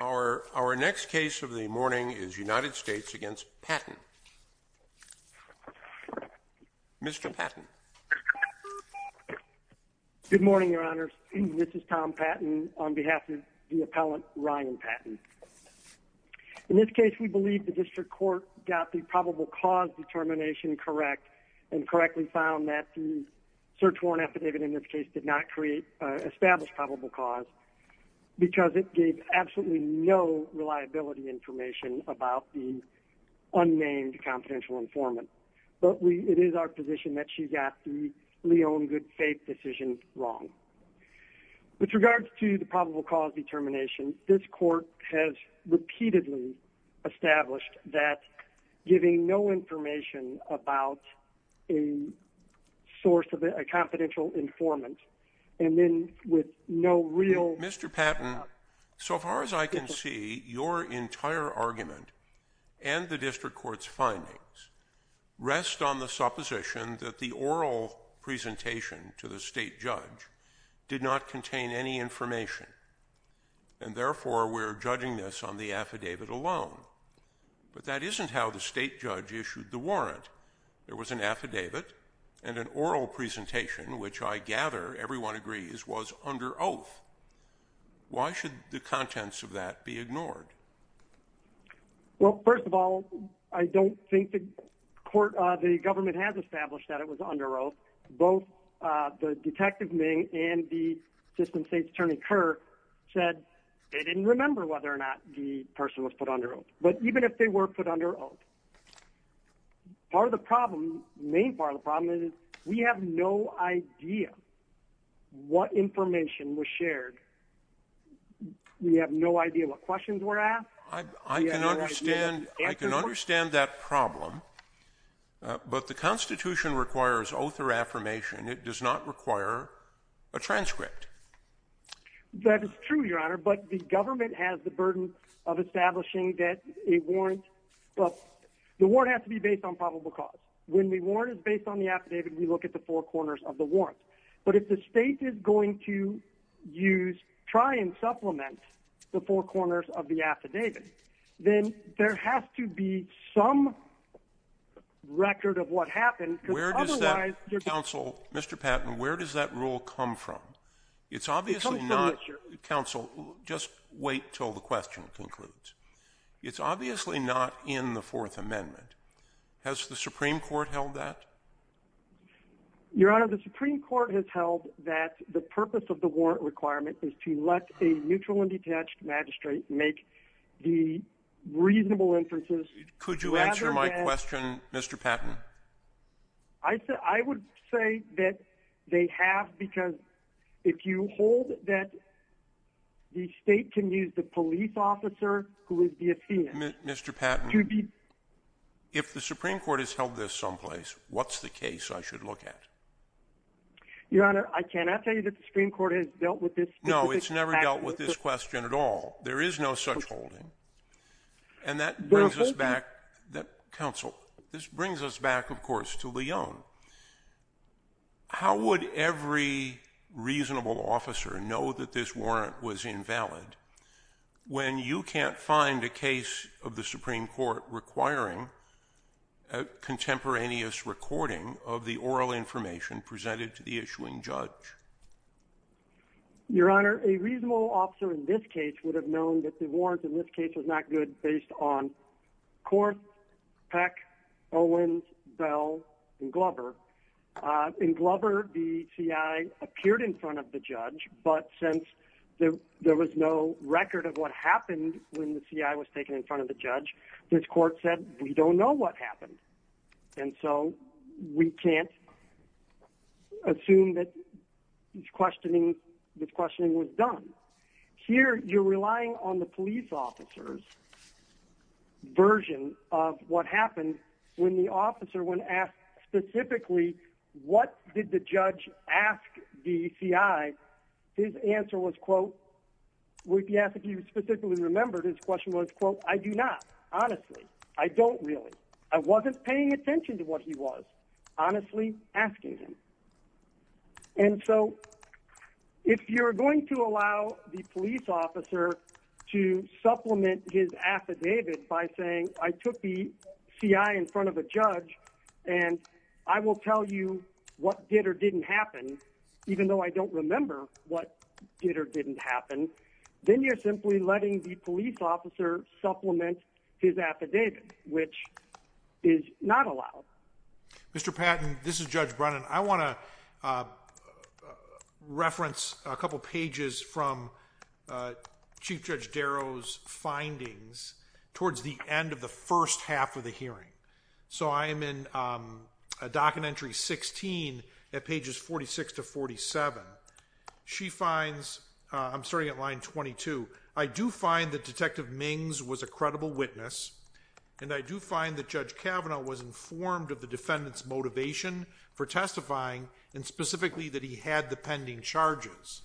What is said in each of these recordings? Our next case of the morning is United States v. Patton. Mr. Patton. Good morning, Your Honors. This is Tom Patton on behalf of the appellant, Ryan Patton. In this case, we believe the district court got the probable cause determination correct and correctly found that the search warrant affidavit in this case did not establish probable cause because it gave absolutely no reliability information about the unnamed confidential informant. But it is our position that she got the Leon Goodfaith decision wrong. With regards to the probable cause determination, this court has repeatedly established that giving no information about a source of a confidential informant and then with no real Mr. Patton, so far as I can see, your entire argument and the district court's findings rest on the supposition that the oral presentation to the state judge did not contain any information. And therefore, we're judging this on the affidavit alone. But that isn't how the state judge issued the warrant. There was an affidavit and an oral presentation, which I gather everyone agrees was under oath. Why should the contents of that be ignored? Well, first of all, I don't think the court, the government has established that it was under oath. Both the detective Ming and the assistant state attorney Kerr said they didn't remember whether or not the person was put under oath. But even if they were put under oath, part of the problem, main part of the problem is we have no idea what information was shared. We have no idea what questions were asked. I can understand that problem, but the Constitution requires oath or affirmation. It does not require a transcript. That is true, Your Honor. But the government has the burden of establishing that a warrant, the warrant has to be based on probable cause. When the warrant is based on the affidavit, we look at the four corners of the warrant. But if the state is going to use, try and supplement the four corners of the affidavit, then there has to be some record of what happened. Where does that, counsel, Mr. Patton, where does that rule come from? It's obviously not, counsel, just wait until the question concludes. It's obviously not in the Fourth Amendment. Has the Supreme Court held that? Your Honor, the Supreme Court has held that the purpose of the warrant requirement is to let a neutral and detached magistrate make the reasonable inferences. Could you answer my question, Mr. Patton? I would say that they have, because if you hold that the state can use the police officer who is the affidavit to be— Mr. Patton, if the Supreme Court has held this someplace, what's the case I should look at? Your Honor, I cannot tell you that the Supreme Court has dealt with this specific matter. No, it's never dealt with this question at all. There is no such holding. And that brings us back, counsel, this brings us back, of course, to Leone. How would every reasonable officer know that this warrant was invalid when you can't find a case of the Supreme Court requiring a contemporaneous recording of the oral information presented to the issuing judge? Your Honor, a reasonable officer in this case would have known that the warrant in this case was not good based on Kors, Peck, Owens, Bell, and Glover. In Glover, the CI appeared in front of the judge, but since there was no record of what happened when the CI was taken in front of the judge, this court said, we don't know what happened. And so we can't assume that this questioning was done. Here, you're relying on the police officer's version of what happened when the officer went and asked specifically, what did the judge ask the CI? His answer was, quote, we ask if you specifically remember, his question was, quote, I do not, honestly. I don't really. I wasn't paying attention to what he was, honestly asking him. And so if you're going to allow the police officer to supplement his affidavit by saying, I took the CI in front of a judge, and I will tell you what did or didn't happen, even though I don't remember what did or didn't happen, then you're simply letting the police officer supplement his affidavit, which is not allowed. Mr. Patton, this is Judge Brennan. I want to reference a couple pages from Chief Judge Darrow's findings towards the end of the first half of the hearing. So I am in a docket entry 16 at pages 46 to 47. She finds, I'm starting at line 22. I do find that Detective Mings was a credible witness, and I do find that Judge Kavanaugh was informed of the defendant's motivation for testifying, and specifically that he had the pending charges.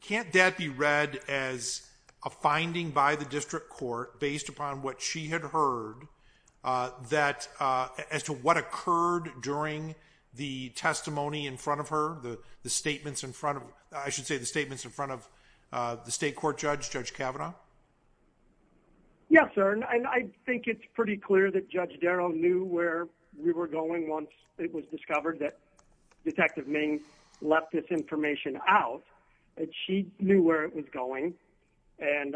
Can't that be read as a finding by the district court based upon what she had heard that, as to what occurred during the testimony in front of her, the statements in front of, I should say the statements in front of the state court judge, Judge Kavanaugh? Yes, sir, and I think it's pretty clear that Judge Darrow knew where we were going once it was discovered that Detective Ming left this information out, that she knew where it was going, and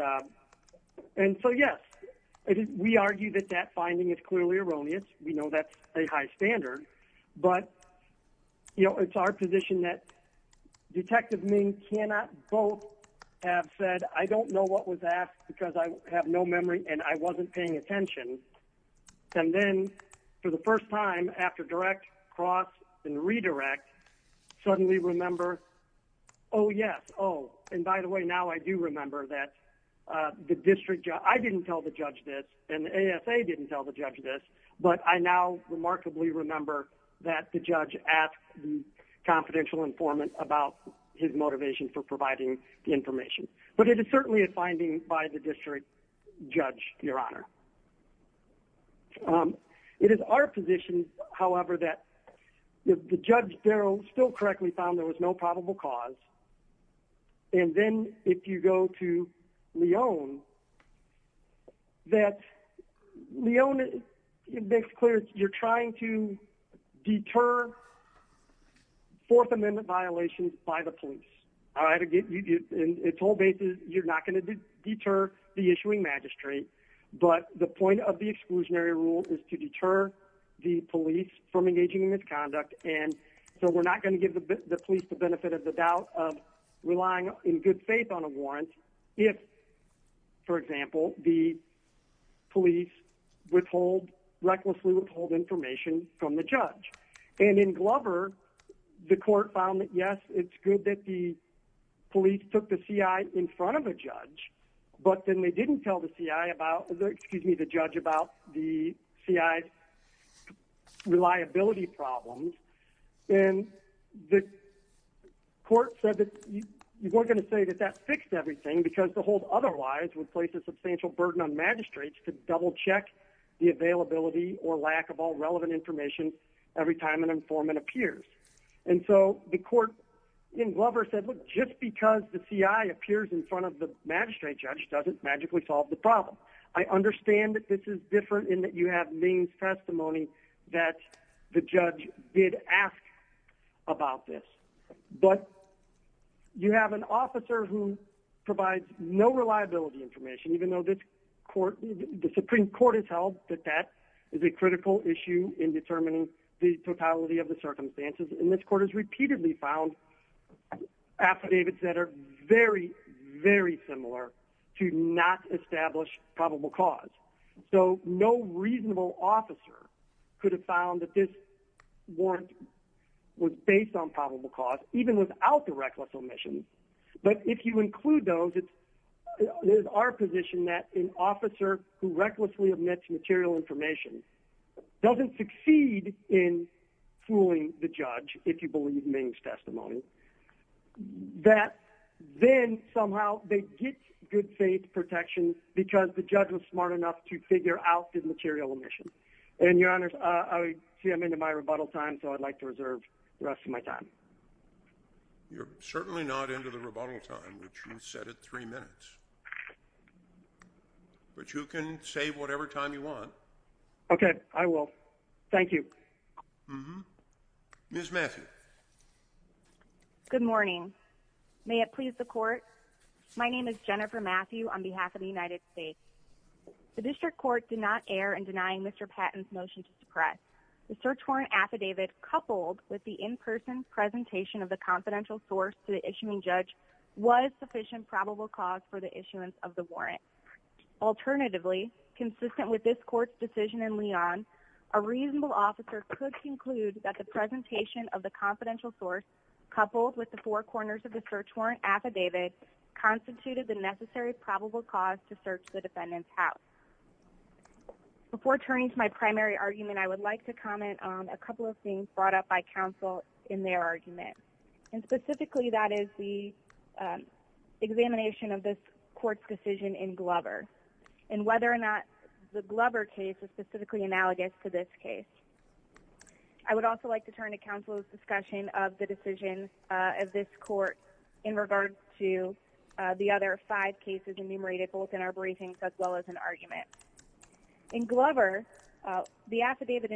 so yes, we argue that that finding is clearly erroneous. We know that's a high standard, but you know, it's our position that Detective Ming cannot both have said, I don't know what was asked because I have no memory and I wasn't paying attention, and then for the first time after direct, cross, and redirect, suddenly remember, oh yes, oh, and by the way, now I do remember that the district, I didn't tell the judge this, and the ASA didn't tell the judge this, but I now remarkably remember that the judge asked the confidential informant about his motivation for providing the information. But it is certainly a finding by the district judge, your honor. It is our position, however, that the Judge Darrow still correctly found there was no Leone, that Leone, it makes clear you're trying to deter Fourth Amendment violations by the police, all right, and its whole basis, you're not going to deter the issuing magistrate, but the point of the exclusionary rule is to deter the police from engaging in misconduct, and so we're not going to give the police the benefit of the doubt of relying in good warrants if, for example, the police withhold, recklessly withhold information from the judge. And in Glover, the court found that yes, it's good that the police took the CI in front of a judge, but then they didn't tell the CI about, excuse me, the judge about the CI's because the whole otherwise would place a substantial burden on magistrates to double-check the availability or lack of all relevant information every time an informant appears. And so the court in Glover said, look, just because the CI appears in front of the magistrate judge doesn't magically solve the problem. I understand that this is different in that you have means testimony that the judge did not ask about this, but you have an officer who provides no reliability information, even though the Supreme Court has held that that is a critical issue in determining the totality of the circumstances, and this court has repeatedly found affidavits that are very, very similar to not establish probable cause. So no reasonable officer could have found that this warrant was based on probable cause, even without the reckless omission. But if you include those, it is our position that an officer who recklessly omits material information doesn't succeed in fooling the judge, if you believe means testimony, that then somehow they get good faith protection because the judge was smart enough to figure out the material omission. And, Your Honor, I see I'm into my rebuttal time, so I'd like to reserve the rest of my time. You're certainly not into the rebuttal time, which you said at three minutes. But you can save whatever time you want. Okay, I will. Thank you. Mm-hmm. Ms. Matthews. Good morning. May it please the court, my name is Jennifer Matthew on behalf of the United States. The district court did not err in denying Mr. Patton's motion to suppress. The search warrant affidavit coupled with the in-person presentation of the confidential source to the issuing judge was sufficient probable cause for the issuance of the warrant. Alternatively, consistent with this court's decision in Leon, a reasonable officer could conclude that the presentation of the confidential source coupled with the four corners of the search warrant affidavit constituted the necessary probable cause to search the defendant's house. Before turning to my primary argument, I would like to comment on a couple of things brought up by counsel in their argument. And specifically, that is the examination of this court's decision in Glover and whether or not the Glover case is specifically analogous to this case. I would also like to turn to counsel's discussion of the decision of this court in regards to the other five cases enumerated both in our briefings as well as in arguments. In Glover, the affidavit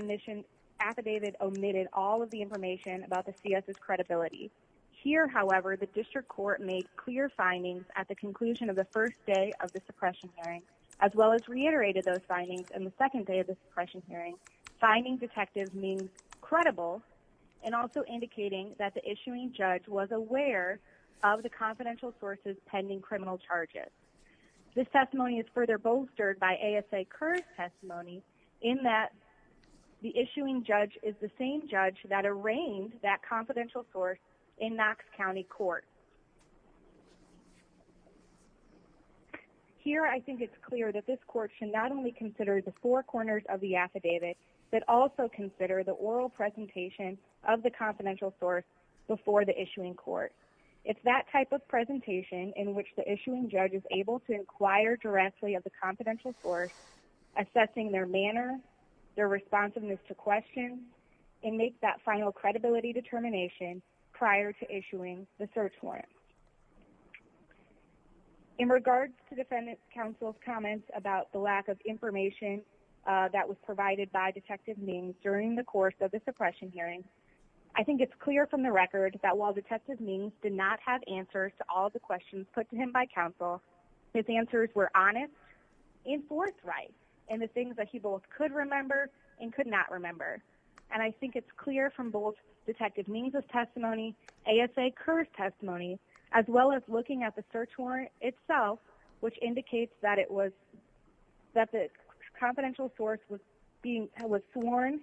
omitted all of the information about the C.S.'s credibility. Here, however, the district court made clear findings at the conclusion of the first day of the suppression hearing as well as reiterated those findings in the second day of the suppression hearing. Finding detective means credible and also indicating that the issuing judge was aware of the confidential sources pending criminal charges. This testimony is further bolstered by A.S.A. Kerr's testimony in that the issuing judge is the same judge that arraigned that confidential source in Knox County Court. Here, I think it's clear that this court should not only consider the four corners of the affidavit but also consider the oral presentation of the confidential source before the issuing court. It's that type of presentation in which the issuing judge is able to inquire directly of the confidential source, assessing their manner, their responsiveness to question, and make that final credibility determination prior to issuing the search warrant. In regards to defendant counsel's comments about the lack of information that was provided by detective means during the course of the suppression hearing, I think it's clear from the record that while detective means did not have answers to all the questions put to him by counsel, his answers were honest and forthright in the things that he both could remember and could not remember. And I think it's clear from both detective means' testimony, A.S.A. Kerr's testimony, as well as looking at the search warrant itself, which indicates that the confidential source was sworn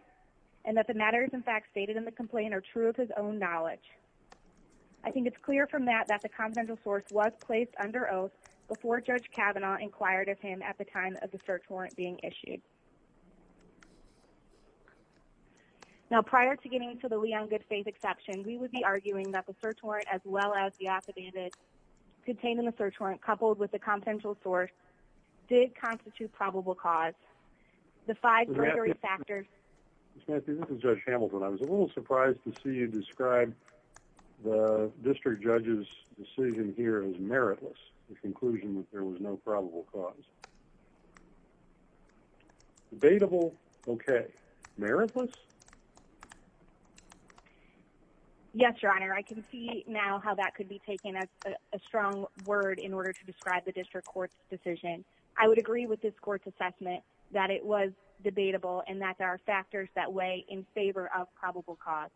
and that the matters in fact stated in the complaint are true of his own knowledge. I think it's clear from that that the confidential source was placed under oath before Judge Kavanaugh inquired of him at the time of the search warrant being issued. Now, prior to getting to the Leon Goodfaith exception, we would be arguing that the search warrant as well as the affidavit contained in the search warrant coupled with the confidential source did constitute probable cause. The five precarious factors... The district judge's decision here is meritless, the conclusion that there was no probable cause. Debatable, okay. Meritless? Yes, Your Honor. I can see now how that could be taken as a strong word in order to describe the district court's decision. I would agree with this court's assessment that it was debatable and that there are factors that weigh in favor of probable cause.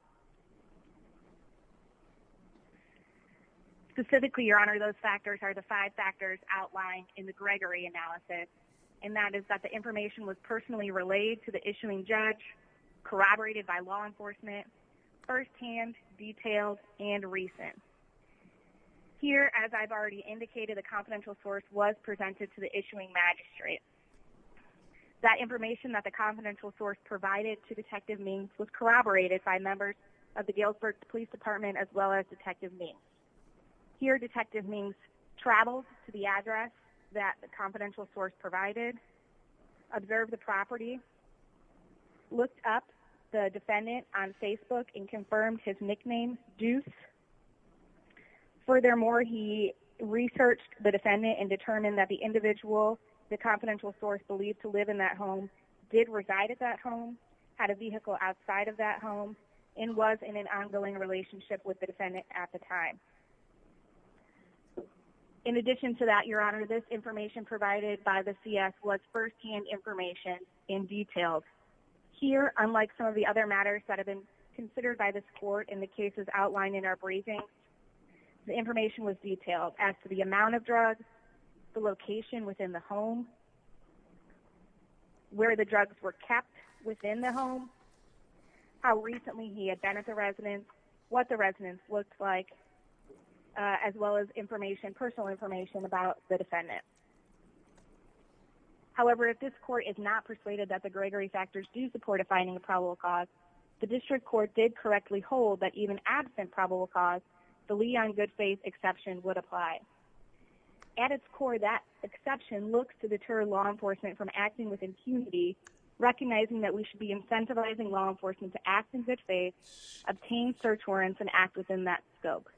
Specifically, Your Honor, those factors are the five factors outlined in the Gregory analysis, and that is that the information was personally relayed to the issuing judge, corroborated by law enforcement, firsthand, detailed, and recent. Here, as I've already indicated, the confidential source was presented to the issuing magistrate. That information that the confidential source provided to Detective Means was corroborated by members of the Galesburg Police Department as well as Detective Means. Here, Detective Means traveled to the address that the confidential source provided, observed the property, looked up the defendant on Facebook and confirmed his nickname, Deuce. Furthermore, he researched the defendant and determined that the individual, the confidential source believed to live in that home, did reside at that home, had a vehicle outside of that home, and was in an ongoing relationship with the defendant at the time. In addition to that, Your Honor, this information provided by the CS was firsthand information and detailed. Here, unlike some of the other matters that have been considered by this court in the cases outlined in our briefing, the information was detailed as to the amount of drugs, the location within the home, where the drugs were kept within the home, how recently he had been at the residence, what the residence looked like, as well as information, personal information about the defendant. However, if this court is not persuaded that the Gregory factors do support a finding of probable cause, the district court did correctly hold that even absent probable cause, the Lee on Good Faith exception would apply. At its core, that exception looks to deter law enforcement from acting with impunity, recognizing that we should be incentivizing law enforcement to act in good faith, obtain search warrants, and act within that scope.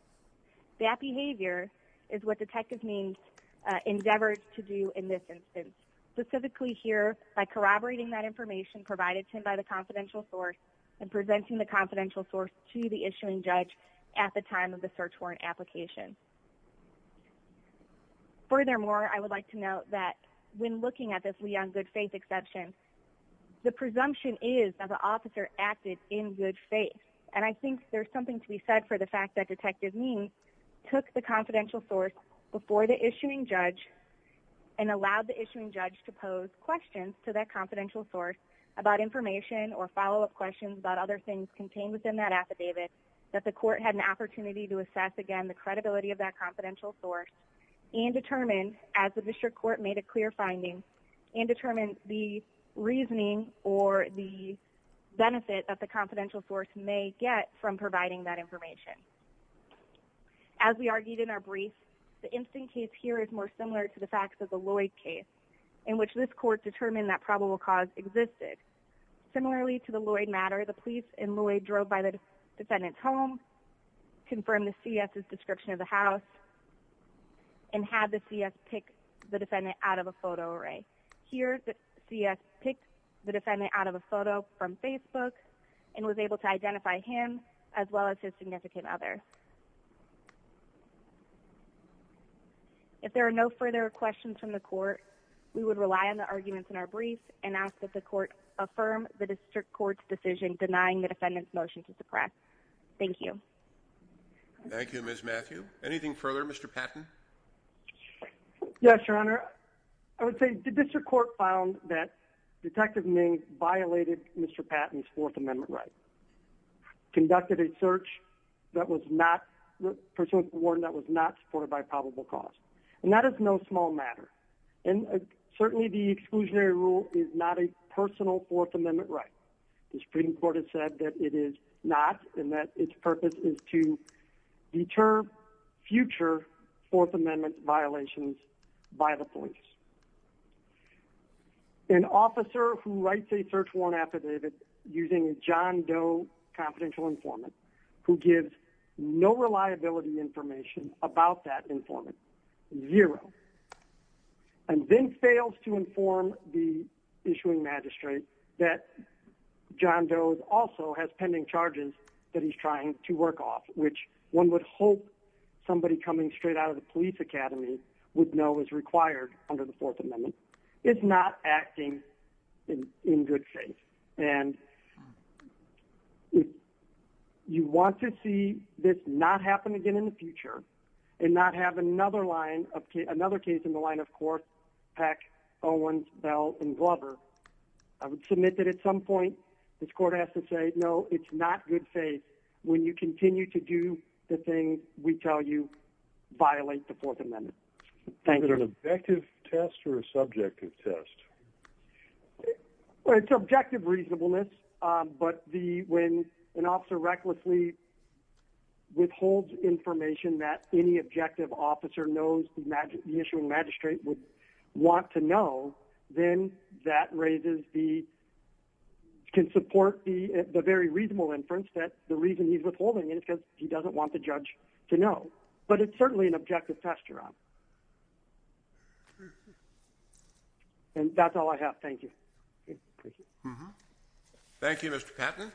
That behavior is what Detective Means endeavored to do in this instance. Specifically here, by corroborating that information provided to him by the confidential source and presenting the confidential source to the issuing judge at the time of the search warrant application. Furthermore, I would like to note that when looking at this Lee on Good Faith exception, the presumption is that the officer acted in good faith. And I think there's something to be said for the fact that Detective Means took the confidential source before the issuing judge and allowed the issuing judge to pose questions to that confidential source about information or follow-up questions about other things contained within that affidavit that the court had an opportunity to assess again the credibility of that confidential source and determine, as the district court made a clear finding, and determine the reasoning or the benefit that the confidential source may get from providing that information. As we argued in our brief, the instant case here is more similar to the facts of the Lloyd case, in which this court determined that probable cause existed. Similarly to the Lloyd matter, the police in Lloyd drove by the defendant's home, confirmed the C.S.'s description of the house, and had the C.S. pick the defendant out of a photo array. Here, the C.S. picked the defendant out of a photo from Facebook and was able to identify him as well as his significant other. If there are no further questions from the court, we would rely on the arguments in our brief and ask that the court affirm the district court's decision denying the defendant's motion to suppress. Thank you. Thank you, Ms. Matthew. Anything further, Mr. Patton? Yes, Your Honor. I would say the district court found that Detective Ming violated Mr. Patton's Fourth Amendment right, conducted a search that was not supported by probable cause. And that is no small matter. And certainly the exclusionary rule is not a personal Fourth Amendment right. The Supreme Court has said that it is not and that its purpose is to deter future Fourth Amendment violations by the police. An officer who writes a search warrant affidavit using a John Doe confidential informant who gives no reliability information about that informant. Zero. And then fails to inform the issuing magistrate that John Doe also has pending charges that he's trying to work off, which one would hope somebody coming straight out of the police academy would know is required under the Fourth Amendment. It's not acting in good faith. And if you want to see this not happen again in the future and not have another case in the line of course, Peck, Owens, Bell, and Glover, I would submit that at some point this court has to say, no, it's not good faith. When you continue to do the things we tell you violate the Fourth Amendment. Thank you. Is it an objective test or a subjective test? Well, it's objective reasonableness. But when an officer recklessly withholds information that any objective officer knows the issuing magistrate would want to know, then that raises the, can support the very reasonable inference that the reason he's withholding it is because he doesn't want the judge to know. But it's certainly an objective test. And that's all I have. Thank you. Thank you, Mr. Patten.